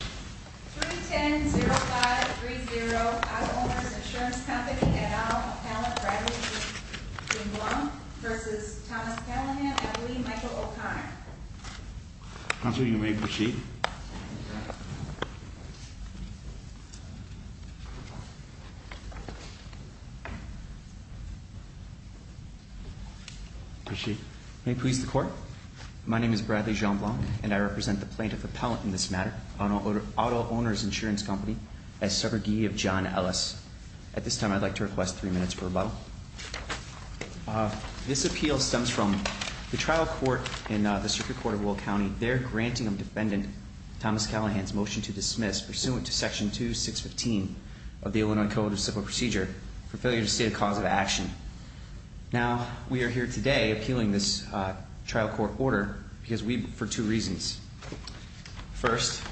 310-0530, Auto Owners Insurance Company, et al, Appellant Bradley Jean Blanc v. Thomas Callaghan and Lee Michael O'Connor. Counsel, you may proceed. Proceed. May it please the court. My name is Bradley Jean Blanc, and I represent the plaintiff appellant in this matter, Auto Owners Insurance Company, as subrogee of John Ellis. At this time, I'd like to request three minutes for rebuttal. This appeal stems from the trial court in the Circuit Court of Will County. They're granting defendant Thomas Callaghan's motion to dismiss, pursuant to Section 2615 of the Illinois Code of Civil Procedure, for failure to state a cause of action. Now, we are here today appealing this trial court order for two reasons. First,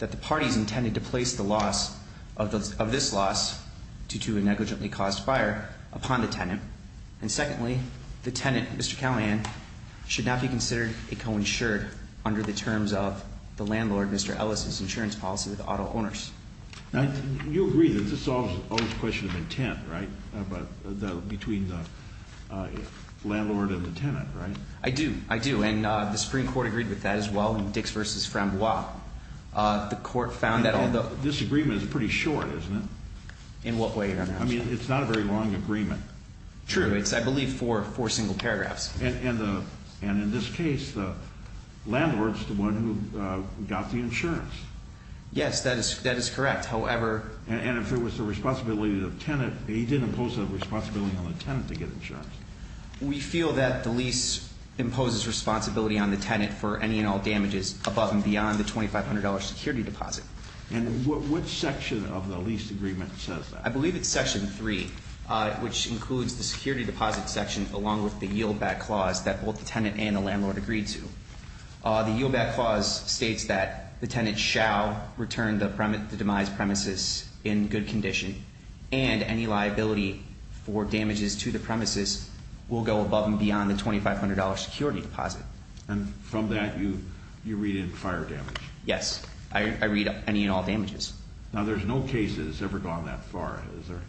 that the parties intended to place the loss of this loss, due to a negligently caused fire, upon the tenant. And secondly, the tenant, Mr. Callaghan, should not be considered a coinsured under the terms of the landlord, Mr. Ellis' insurance policy with auto owners. Now, you agree that this all is a question of intent, right? Between the landlord and the tenant, right? I do. I do. And the Supreme Court agreed with that as well in Dix v. Frambois. The court found that although... This agreement is pretty short, isn't it? In what way, Your Honor? I mean, it's not a very long agreement. True. It's, I believe, four single paragraphs. And in this case, the landlord's the one who got the insurance. Yes, that is correct. However... And if it was the responsibility of the tenant, he didn't impose that responsibility on the tenant to get insurance. We feel that the lease imposes responsibility on the tenant for any and all damages above and beyond the $2,500 security deposit. And what section of the lease agreement says that? I believe it's section three, which includes the security deposit section along with the yieldback clause that both the tenant and the landlord agreed to. The yieldback clause states that the tenant shall return the demise premises in good condition and any liability for damages to the premises will go above and beyond the $2,500 security deposit. And from that, you read in fire damage? Yes. I read any and all damages. Now, there's no case that has ever gone that far, is there?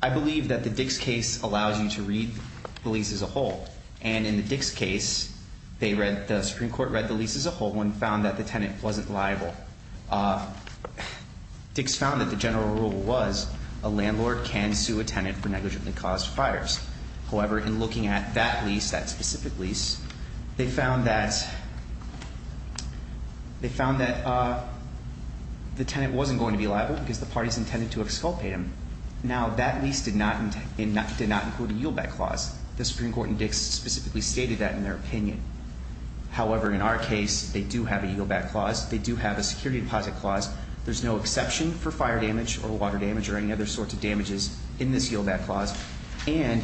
I believe that the Dix case allows you to read the lease as a whole. And in the Dix case, the Supreme Court read the lease as a whole and found that the tenant wasn't liable. Dix found that the general rule was a landlord can sue a tenant for negligently caused fires. However, in looking at that lease, that specific lease, they found that the tenant wasn't going to be liable because the parties intended to exculpate him. Now, that lease did not include a yieldback clause. The Supreme Court in Dix specifically stated that in their opinion. However, in our case, they do have a yieldback clause. They do have a security deposit clause. There's no exception for fire damage or water damage or any other sorts of damages in this yieldback clause. And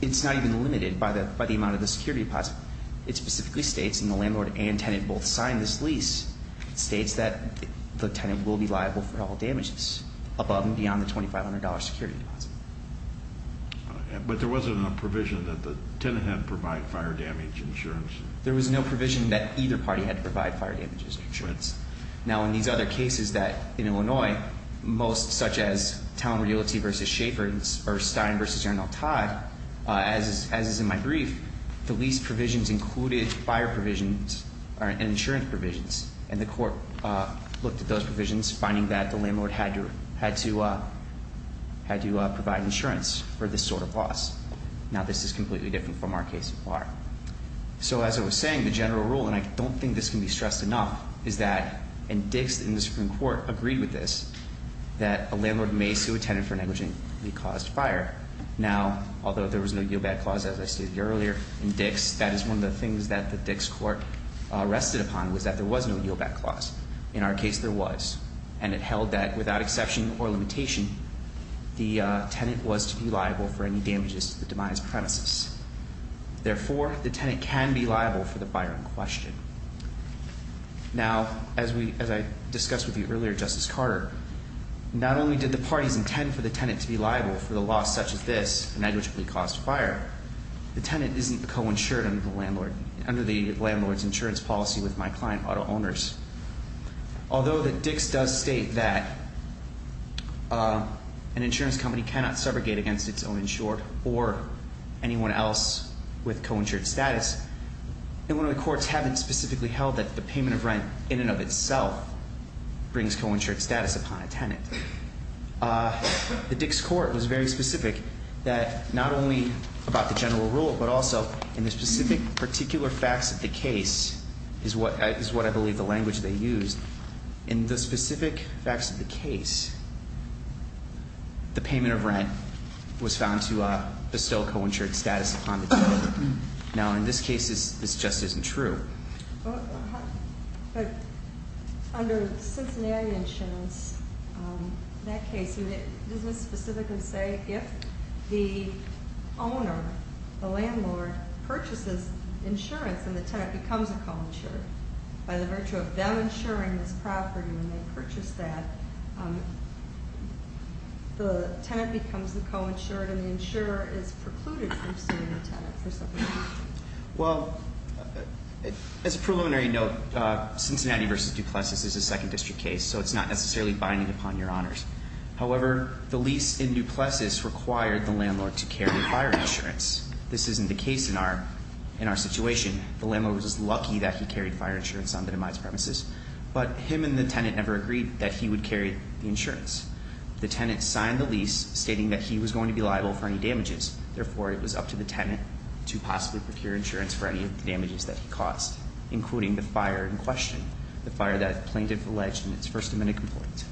it's not even limited by the amount of the security deposit. It specifically states, and the landlord and tenant both signed this lease, it states that the tenant will be liable for all damages above and beyond the $2,500 security deposit. But there wasn't a provision that the tenant had to provide fire damage insurance. There was no provision that either party had to provide fire damages insurance. Now, in these other cases that, in Illinois, most such as Town Realty v. Schaffer or Stein v. Arnold Todd, as is in my brief, the lease provisions included fire provisions and insurance provisions. And the court looked at those provisions, finding that the landlord had to provide insurance for this sort of loss. Now, this is completely different from our case so far. So, as I was saying, the general rule, and I don't think this can be stressed enough, is that in Dix, in the Supreme Court, agreed with this, that a landlord may sue a tenant for negligently caused fire. Now, although there was no yieldback clause, as I stated earlier, in Dix, that is one of the things that the Dix court rested upon, was that there was no yieldback clause. In our case, there was. And it held that, without exception or limitation, the tenant was to be liable for any damages to the demise premises. Therefore, the tenant can be liable for the fire in question. Now, as I discussed with you earlier, Justice Carter, not only did the parties intend for the tenant to be liable for the loss such as this, negligently caused fire, the tenant isn't co-insured under the landlord's insurance policy with my client auto owners. Although the Dix does state that an insurance company cannot subrogate against its own insured or anyone else with co-insured status, the courts haven't specifically held that the payment of rent in and of itself brings co-insured status upon a tenant. The Dix court was very specific that not only about the general rule, but also in the specific particular facts of the case, is what I believe the language they used. In the specific facts of the case, the payment of rent was found to bestow co-insured status upon the tenant. Now, in this case, this just isn't true. But under Cincinnati insurance, that case, doesn't it specifically say if the owner, the landlord, purchases insurance and the tenant becomes a co-insured, by the virtue of them insuring this property when they purchase that, the tenant becomes the co-insured and the insurer is precluded from suing the tenant for something like that? Well, as a preliminary note, Cincinnati versus DuPlessis is a second district case, so it's not necessarily binding upon your honors. However, the lease in DuPlessis required the landlord to carry fire insurance. This isn't the case in our situation. The landlord was just lucky that he carried fire insurance on the demise premises. But him and the tenant never agreed that he would carry the insurance. The tenant signed the lease stating that he was going to be liable for any damages. Therefore, it was up to the tenant to possibly procure insurance for any of the damages that he caused, including the fire in question, the fire that plaintiff alleged in its first amendment complaint.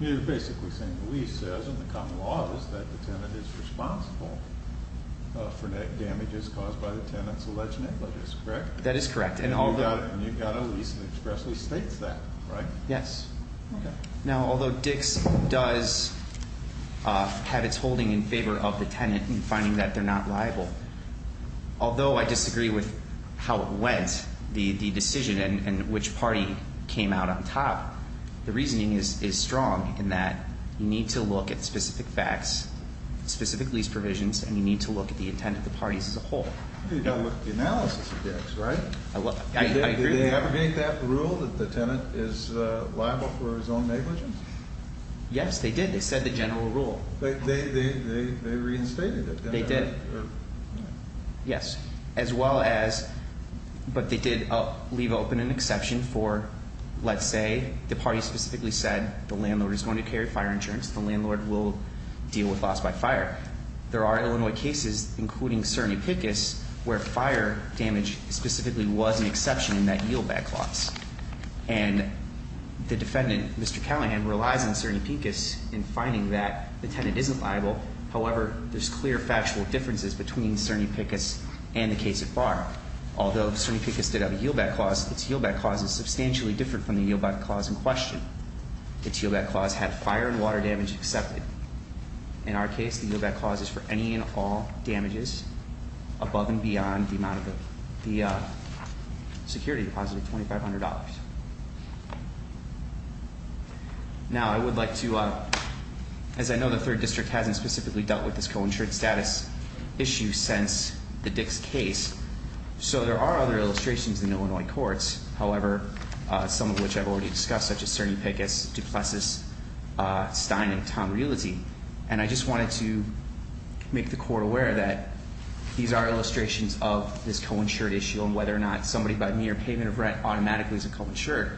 You're basically saying the lease says and the common law is that the tenant is responsible for damages caused by the tenant's alleged negligence, correct? That is correct. And you got a lease that expressly states that, right? Yes. Okay. Now, although Dix does have its holding in favor of the tenant in finding that they're not liable, although I disagree with how it went, the decision and which party came out on top, the reasoning is strong in that you need to look at specific facts, specific lease provisions, and you need to look at the intent of the parties as a whole. You've got to look at the analysis of Dix, right? I agree with that. Did they abrogate that rule that the tenant is liable for his own negligence? Yes, they did. They said the general rule. They reinstated it. They did. Yes. As well as, but they did leave open an exception for, let's say, the party specifically said the landlord is going to carry fire insurance, the landlord will deal with loss by fire. There are Illinois cases, including Cerny-Picus, where fire damage specifically was an exception in that yield-back clause. And the defendant, Mr. Callahan, relies on Cerny-Picus in finding that the tenant isn't liable. However, there's clear factual differences between Cerny-Picus and the case at bar. Although Cerny-Picus did have a yield-back clause, its yield-back clause is substantially different from the yield-back clause in question. Its yield-back clause had fire and water damage accepted. In our case, the yield-back clause is for any and all damages above and beyond the amount of the security deposit of $2,500. Now, I would like to, as I know the third district hasn't specifically dealt with this co-insured status issue since the Dick's case. So there are other illustrations in Illinois courts. However, some of which I've already discussed, such as Cerny-Picus, DuPlessis, Stein, and Tom Realty. And I just wanted to make the court aware that these are illustrations of this co-insured issue, and whether or not somebody by mere payment of rent automatically is a co-insured.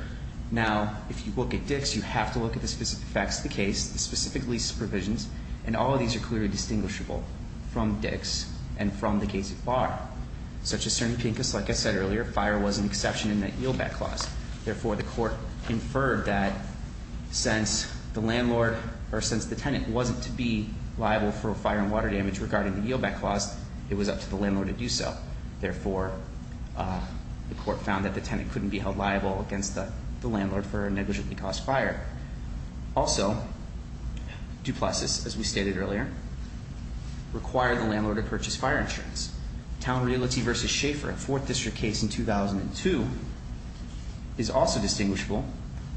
Now, if you look at Dick's, you have to look at the specific facts of the case, the specific lease provisions. And all of these are clearly distinguishable from Dick's and from the case at bar. Such as Cerny-Picus, like I said earlier, fire was an exception in that yield-back clause. Therefore, the court inferred that since the tenant wasn't to be liable for fire and water damage regarding the yield-back clause, it was up to the landlord to do so. Therefore, the court found that the tenant couldn't be held liable against the landlord for a negligently caused fire. Also, DuPlessis, as we stated earlier, required the landlord to purchase fire insurance. Town Realty v. Schaeffer, fourth district case in 2002, is also distinguishable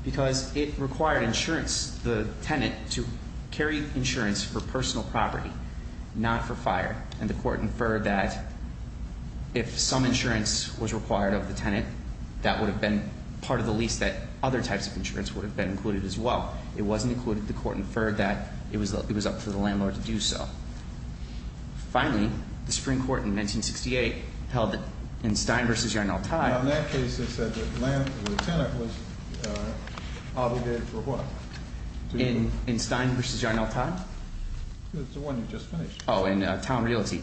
because it required insurance, the tenant, to carry insurance for personal property, not for fire. And the court inferred that if some insurance was required of the tenant, that would have been part of the lease that other types of insurance would have been included as well. It wasn't included. The court inferred that it was up to the landlord to do so. Finally, the Supreme Court in 1968 held that in Stein v. Yarnell-Tye In that case, it said that the tenant was obligated for what? In Stein v. Yarnell-Tye? It's the one you just finished. Oh, in Town Realty.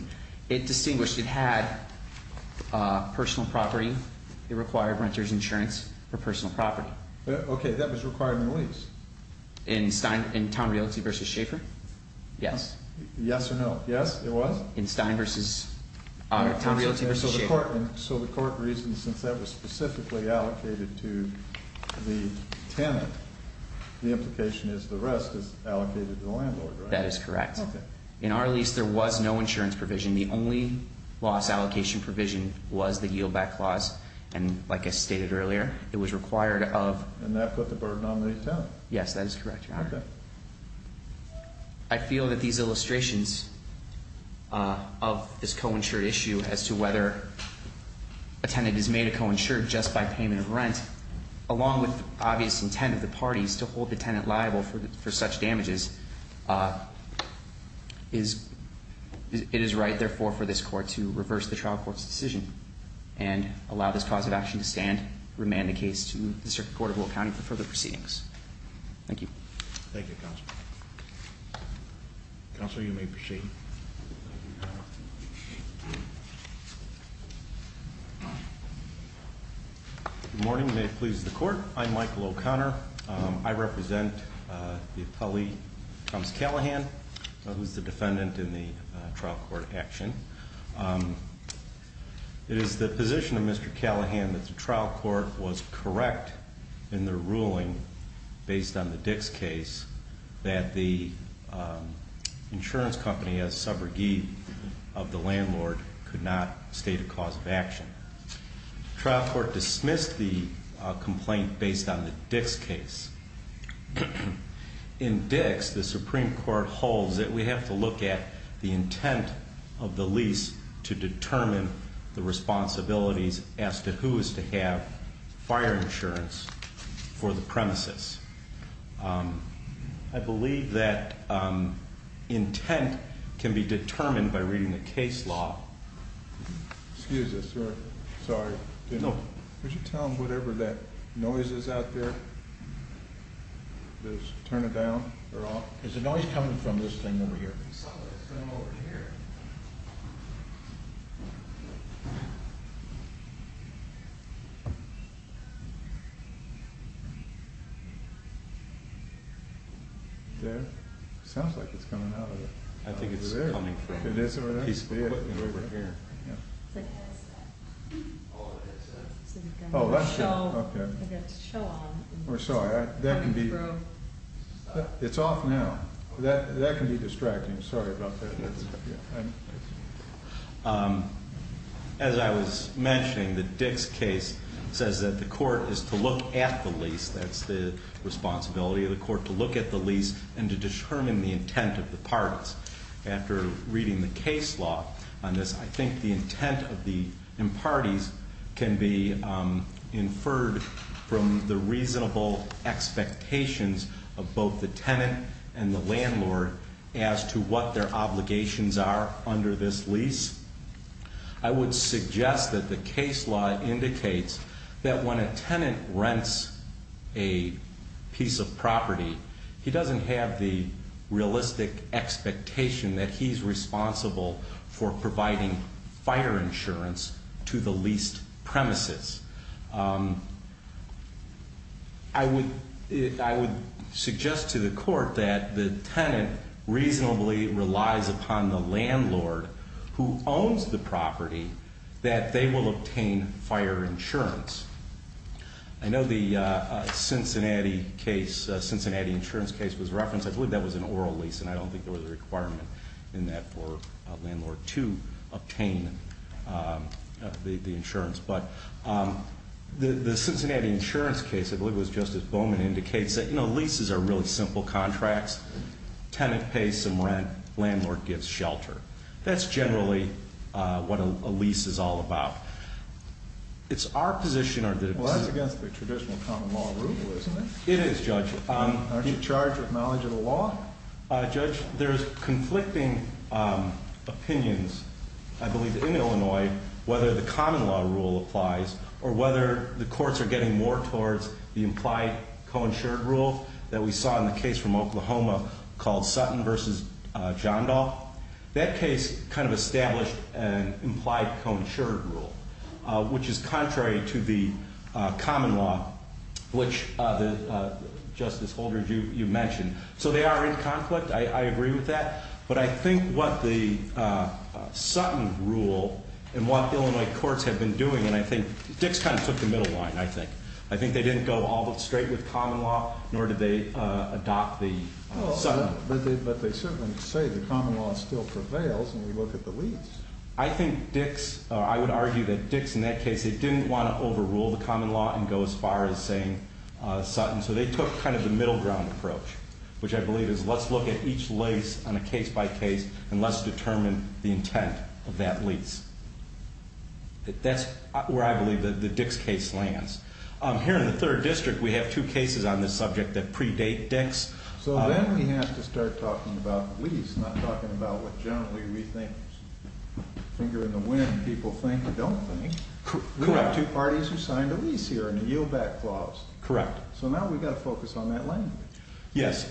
It distinguished it had personal property. It required renter's insurance for personal property. Okay, that was required in the lease. In Town Realty v. Schaeffer? Yes. Yes or no? Yes, it was? In Stein v. Town Realty v. Schaeffer. So the court reasoned since that was specifically allocated to the tenant, the implication is the rest is allocated to the landlord, right? That is correct. In our lease, there was no insurance provision. The only loss allocation provision was the Yield Back Clause. And like I stated earlier, it was required of And that put the burden on the tenant. Yes, that is correct, Your Honor. I feel that these illustrations of this co-insured issue as to whether a tenant is made a co-insured just by payment of rent, along with obvious intent of the parties to hold the tenant liable for such damages, it is right, therefore, for this court to reverse the trial court's decision and allow this cause of action to stand, remand the case to the District Court of Will County for further proceedings. Thank you. Thank you, Counselor. Counselor, you may proceed. Good morning. May it please the Court. I'm Michael O'Connor. I represent the appellee, Thomas Callahan, who is the defendant in the trial court action. It is the position of Mr. Callahan that the trial court was correct in their ruling based on the Dix case that the insurance company as subrogate of the landlord could not state a cause of action. Trial court dismissed the complaint based on the Dix case. In Dix, the Supreme Court holds that we have to look at the intent of the lease to determine the responsibilities as to who is to have fire insurance for the premises. I believe that intent can be determined by reading the case law. Excuse us, sir. Sorry. No. Could you tell them whatever that noise is out there? Does it turn it down or off? Is the noise coming from this thing over here? I saw this thing over here. There. It sounds like it's coming out of it. I think it's coming from a piece of equipment over here. Oh, that's it. Okay. We're sorry. That can be... It's off now. That can be distracting. Sorry about that. As I was mentioning, the Dix case says that the court is to look at the lease. That's the responsibility of the court to look at the lease and to determine the intent of the parts. After reading the case law on this, I think the intent of the parties can be inferred from the reasonable expectations of both the tenant and the landlord as to what their obligations are under this lease. I would suggest that the case law indicates that when a tenant rents a piece of property, he doesn't have the realistic expectation that he's responsible for providing fire insurance to the leased premises. I would suggest to the court that the tenant reasonably relies upon the landlord who owns the property that they will obtain fire insurance. I know the Cincinnati insurance case was referenced. I believe that was an oral lease, and I don't think there was a requirement in that for a landlord to obtain the insurance. The Cincinnati insurance case, I believe it was Justice Bowman, indicates that leases are really simple contracts. Tenant pays some rent. Landlord gives shelter. That's generally what a lease is all about. Well, that's against the traditional common law rule, isn't it? It is, Judge. Aren't you charged with knowledge of the law? Judge, there's conflicting opinions, I believe, in Illinois whether the common law rule applies or whether the courts are getting more towards the implied co-insured rule that we saw in the case from Oklahoma called Sutton v. Johndahl. That case kind of established an implied co-insured rule, which is contrary to the common law, which, Justice Holdren, you mentioned. So they are in conflict. I agree with that. But I think what the Sutton rule and what Illinois courts have been doing, and I think Dick's kind of took the middle line, I think. I think they didn't go all but straight with common law, nor did they adopt the Sutton rule. But they certainly say the common law still prevails when you look at the lease. I think Dick's, or I would argue that Dick's in that case, they didn't want to overrule the common law and go as far as saying Sutton. So they took kind of the middle ground approach, which I believe is let's look at each lease on a case-by-case and let's determine the intent of that lease. That's where I believe the Dick's case lands. Here in the 3rd District, we have two cases on this subject that predate Dick's. So then we have to start talking about lease, not talking about what generally we think, finger in the wind, people think or don't think. Correct. We have two parties who signed a lease here and a yield-back clause. Correct. So now we've got to focus on that land. Yes.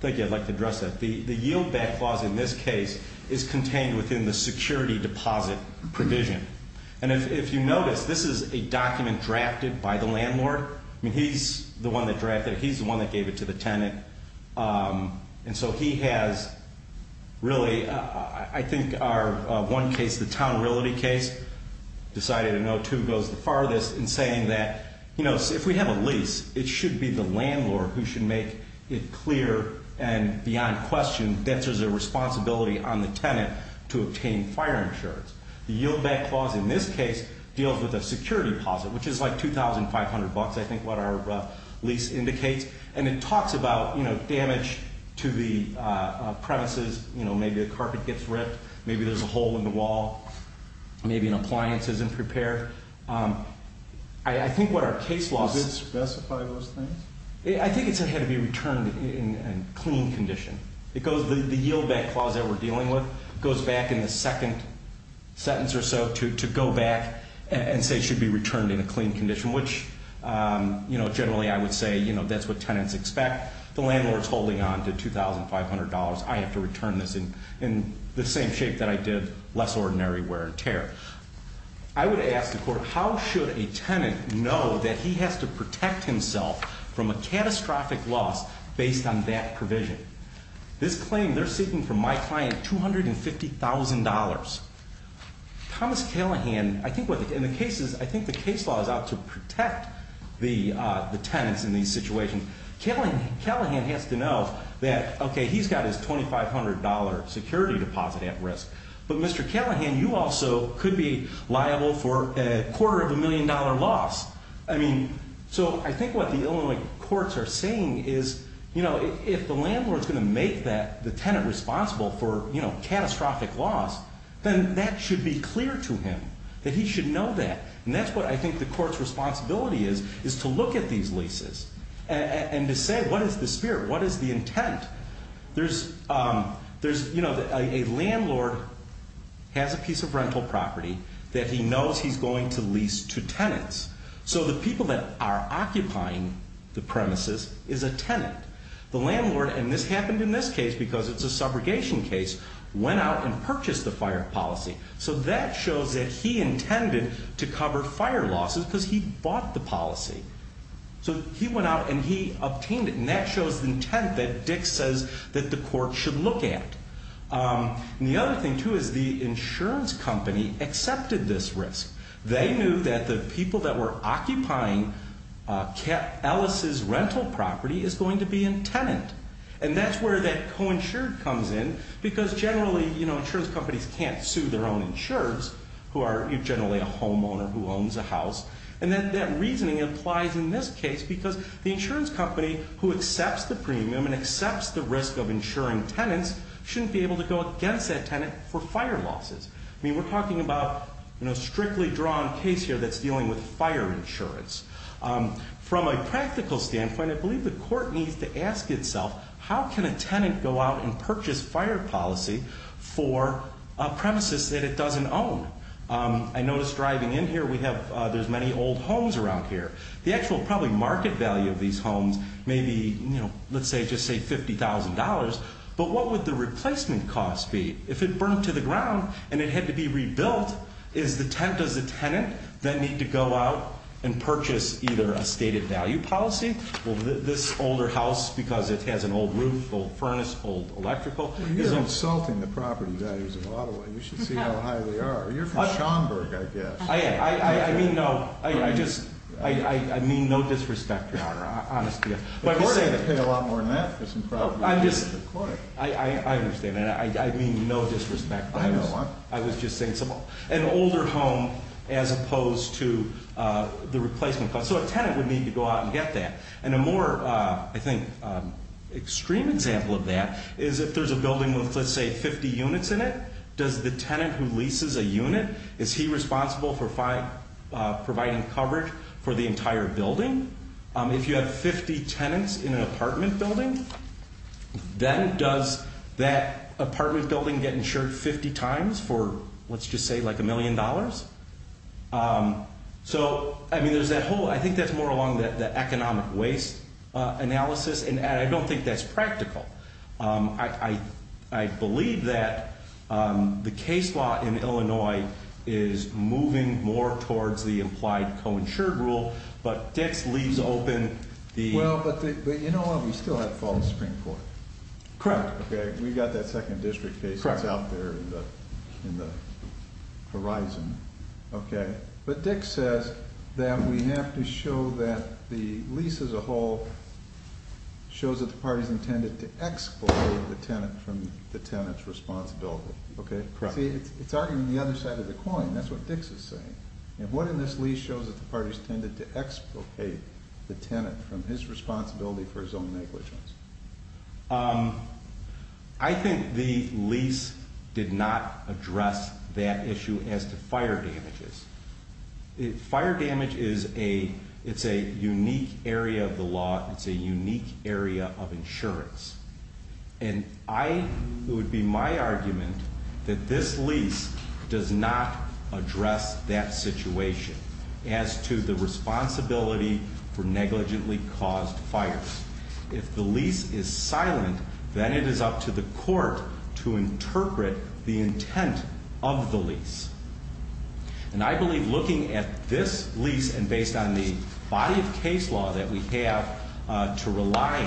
Thank you. I'd like to address that. The yield-back clause in this case is contained within the security deposit provision. And if you notice, this is a document drafted by the landlord. I mean, he's the one that drafted it. He's the one that gave it to the tenant. And so he has really, I think, our one case, the town realty case, decided a no-two goes the farthest in saying that, you know, of course, if we have a lease, it should be the landlord who should make it clear and beyond question that there's a responsibility on the tenant to obtain fire insurance. The yield-back clause in this case deals with a security deposit, which is like $2,500, I think, what our lease indicates. And it talks about, you know, damage to the premises. You know, maybe a carpet gets ripped. Maybe there's a hole in the wall. Maybe an appliance isn't prepared. I think what our case law says. Did it specify those things? I think it said it had to be returned in a clean condition. The yield-back clause that we're dealing with goes back in the second sentence or so to go back and say it should be returned in a clean condition, which, you know, generally I would say, you know, that's what tenants expect. The landlord's holding on to $2,500. I have to return this in the same shape that I did less ordinary wear and tear. I would ask the court, how should a tenant know that he has to protect himself from a catastrophic loss based on that provision? This claim, they're seeking from my client $250,000. Thomas Callahan, I think what the case is, I think the case law is out to protect the tenants in these situations. Callahan has to know that, okay, he's got his $2,500 security deposit at risk, but Mr. Callahan, you also could be liable for a quarter-of-a-million-dollar loss. I mean, so I think what the Illinois courts are saying is, you know, if the landlord's going to make the tenant responsible for, you know, catastrophic loss, then that should be clear to him, that he should know that. And that's what I think the court's responsibility is, is to look at these leases and to say what is the spirit, what is the intent. There's, you know, a landlord has a piece of rental property that he knows he's going to lease to tenants. So the people that are occupying the premises is a tenant. The landlord, and this happened in this case because it's a subrogation case, went out and purchased the fire policy. So that shows that he intended to cover fire losses because he bought the policy. So he went out and he obtained it, and that shows the intent that Dick says that the court should look at. And the other thing, too, is the insurance company accepted this risk. They knew that the people that were occupying Alice's rental property is going to be a tenant. And that's where that coinsured comes in, because generally, you know, insurance companies can't sue their own insurers, who are generally a homeowner who owns a house. And that reasoning applies in this case because the insurance company who accepts the premium and accepts the risk of insuring tenants shouldn't be able to go against that tenant for fire losses. I mean, we're talking about, you know, a strictly drawn case here that's dealing with fire insurance. From a practical standpoint, I believe the court needs to ask itself, how can a tenant go out and purchase fire policy for a premises that it doesn't own? I noticed driving in here, there's many old homes around here. The actual probably market value of these homes may be, you know, let's just say $50,000, but what would the replacement cost be? If it burned to the ground and it had to be rebuilt, does the tenant then need to go out and purchase either a stated value policy? Will this older house, because it has an old roof, old furnace, old electrical? You're insulting the property values of Ottawa. You should see how high they are. You're from Schaumburg, I guess. I mean no disrespect, Your Honor. The court has to pay a lot more than that. I understand that. I mean no disrespect. I know. I was just saying an older home as opposed to the replacement cost. So a tenant would need to go out and get that. And a more, I think, extreme example of that is if there's a building with, let's say, 50 units in it, does the tenant who leases a unit, is he responsible for providing coverage for the entire building? If you have 50 tenants in an apartment building, then does that apartment building get insured 50 times for, let's just say, like a million dollars? So, I mean, there's that whole, I think that's more along the economic waste analysis, and I don't think that's practical. I believe that the case law in Illinois is moving more towards the implied co-insured rule, but Dix leaves open the- Well, but you know what? We still have to follow the Supreme Court. Correct. Okay. We've got that second district case that's out there in the horizon. Okay. But Dix says that we have to show that the lease as a whole shows that the party's intended to expropriate the tenant from the tenant's responsibility. Okay? Correct. See, it's arguing the other side of the coin. That's what Dix is saying. And what in this lease shows that the party's intended to expropriate the tenant from his responsibility for his own negligence? I think the lease did not address that issue as to fire damages. Fire damage is a unique area of the law. It's a unique area of insurance. And it would be my argument that this lease does not address that situation as to the responsibility for negligently caused fires. If the lease is silent, then it is up to the court to interpret the intent of the lease. And I believe looking at this lease and based on the body of case law that we have to rely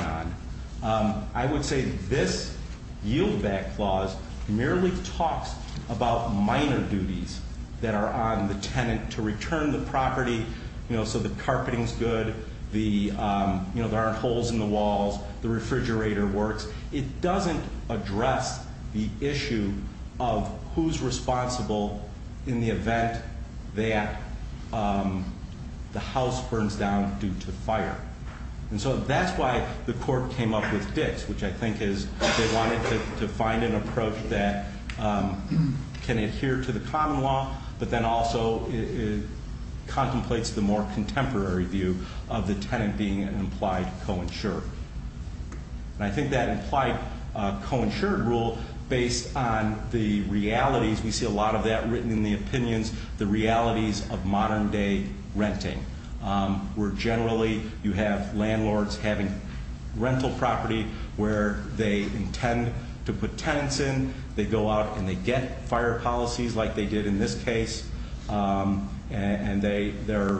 on, I would say this yield-back clause merely talks about minor duties that are on the tenant to return the property so the carpeting's good, there aren't holes in the walls, the refrigerator works. It doesn't address the issue of who's responsible in the event that the house burns down due to fire. And so that's why the court came up with Dix, which I think is they wanted to find an approach that can adhere to the common law, but then also contemplates the more contemporary view of the tenant being an implied co-insured. And I think that implied co-insured rule, based on the realities, we see a lot of that written in the opinions, the realities of modern-day renting, where generally you have landlords having rental property where they intend to put tenants in, they go out and they get fire policies like they did in this case, and they're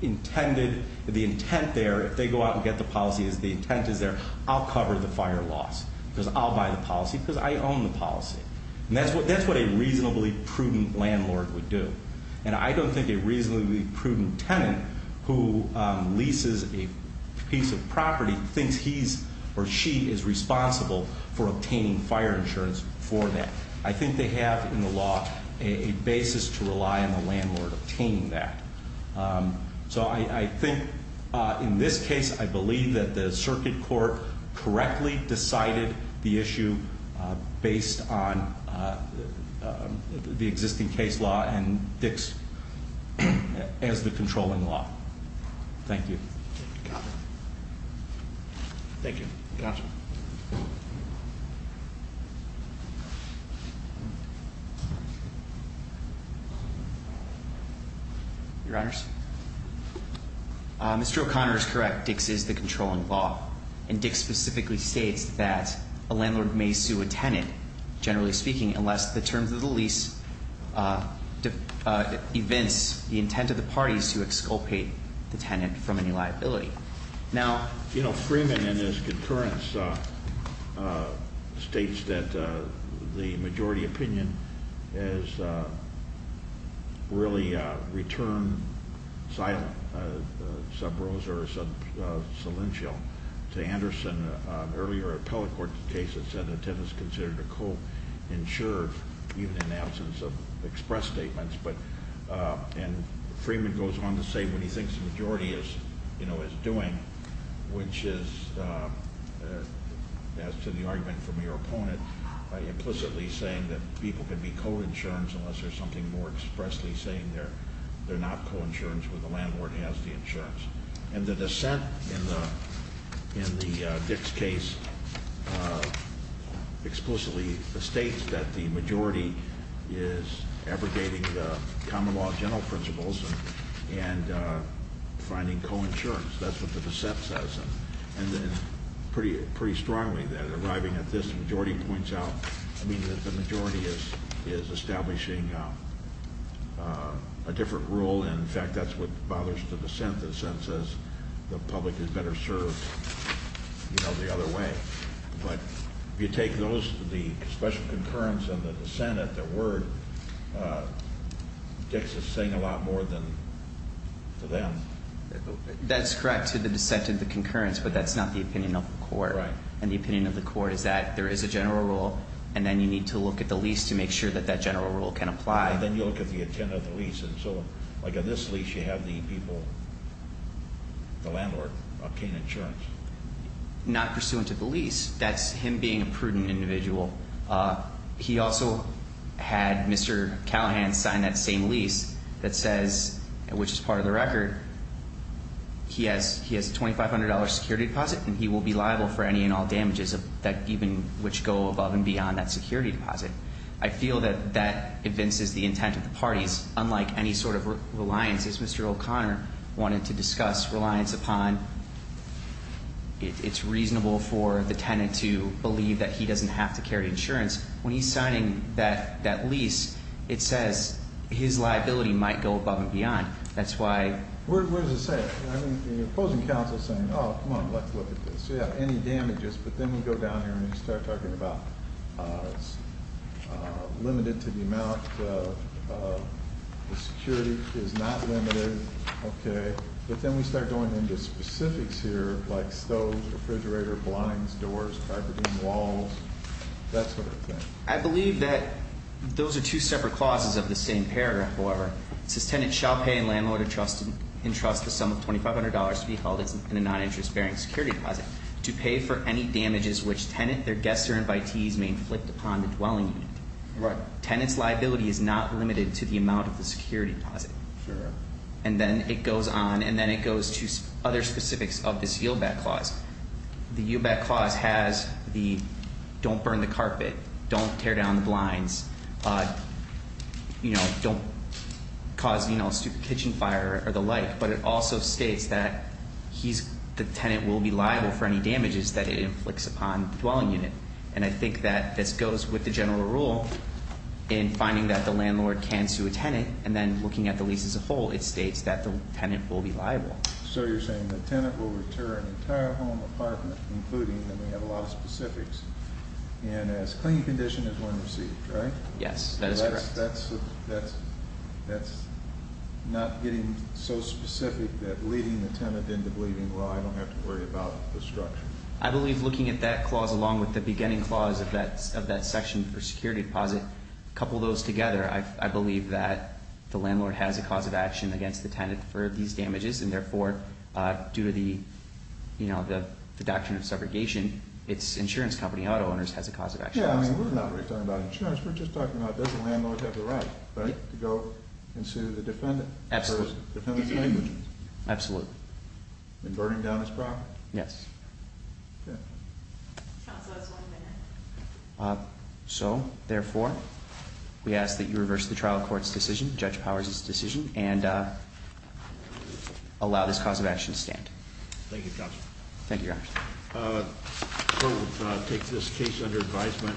intended, the intent there, if they go out and get the policy as the intent is there, I'll cover the fire loss because I'll buy the policy because I own the policy. And that's what a reasonably prudent landlord would do. And I don't think a reasonably prudent tenant who leases a piece of property thinks he's or she is responsible for obtaining fire insurance for that. I think they have in the law a basis to rely on the landlord obtaining that. So I think in this case, I believe that the circuit court correctly decided the issue based on the existing case law and Dix as the controlling law. Thank you. Mr. O'Connor. Mr. O'Connor is correct. Dix is the controlling law. And Dix specifically states that a landlord may sue a tenant, generally speaking, unless the terms of the lease evince the intent of the parties to exculpate the tenant from any liability. And I think that's a good point. Now, you know, Freeman in his concurrence states that the majority opinion has really returned silent, sub rosa or sub cilential to Anderson. Earlier at Appellate Court, the case had said the tenant is considered a co-insurer, even in the absence of express statements. And Freeman goes on to say what he thinks the majority is doing, which is, as to the argument from your opponent, implicitly saying that people can be co-insurance unless there's something more expressly saying they're not co-insurance when the landlord has the insurance. And the dissent in the Dix case explicitly states that the majority is abrogating the common law general principles and finding co-insurance. That's what the dissent says. And then pretty strongly that arriving at this, the majority points out, I mean, that the majority is establishing a different rule. And, in fact, that's what bothers the dissent. The dissent says the public is better served, you know, the other way. But if you take those, the special concurrence and the dissent at their word, Dix is saying a lot more than to them. That's correct to the dissent and the concurrence, but that's not the opinion of the court. Right. And the opinion of the court is that there is a general rule, and then you need to look at the lease to make sure that that general rule can apply. And then you look at the intent of the lease and so on. Like on this lease you have the people, the landlord, obtain insurance. Not pursuant to the lease. That's him being a prudent individual. He also had Mr. Callahan sign that same lease that says, which is part of the record, he has a $2,500 security deposit and he will be liable for any and all damages, even which go above and beyond that security deposit. I feel that that evinces the intent of the parties. Unlike any sort of reliance, as Mr. O'Connor wanted to discuss reliance upon, it's reasonable for the tenant to believe that he doesn't have to carry insurance. When he's signing that lease, it says his liability might go above and beyond. That's why. What does it say? I mean, the opposing counsel is saying, oh, come on, let's look at this. Yeah, any damages. But then we go down here and we start talking about limited to the amount. The security is not limited. Okay. But then we start going into specifics here like stoves, refrigerator, blinds, doors, carpeting, walls. That sort of thing. I believe that those are two separate clauses of the same paragraph, however. It says tenant shall pay a landlord in trust the sum of $2,500 to be held in a non-interest bearing security deposit to pay for any damages which tenant, their guests, or invitees may inflict upon the dwelling unit. Right. Tenant's liability is not limited to the amount of the security deposit. Sure. And then it goes on, and then it goes to other specifics of this yield back clause. The yield back clause has the don't burn the carpet, don't tear down the blinds, don't cause stupid kitchen fire or the like. But it also states that the tenant will be liable for any damages that it inflicts upon the dwelling unit. And I think that this goes with the general rule in finding that the landlord can sue a tenant, and then looking at the lease as a whole, it states that the tenant will be liable. So you're saying the tenant will return an entire home, apartment, including, and we have a lot of specifics, and as clinging condition is when received, right? Yes, that is correct. That's not getting so specific that leading the tenant into believing, well, I don't have to worry about destruction. I believe looking at that clause along with the beginning clause of that section for security deposit, couple those together, I believe that the landlord has a cause of action against the tenant for these damages, and therefore, due to the doctrine of subrogation, its insurance company, Auto Owners, has a cause of action. Yeah, I mean, we're not really talking about insurance. We're just talking about does the landlord have the right to go and sue the defendant? Absolutely. Defendant's language? Absolutely. In burning down his property? Yes. Okay. Counsel, that's one minute. So, therefore, we ask that you reverse the trial court's decision, Judge Powers's decision, and allow this cause of action to stand. Thank you, Counsel. Thank you, Your Honor. Court will take this case under advisement.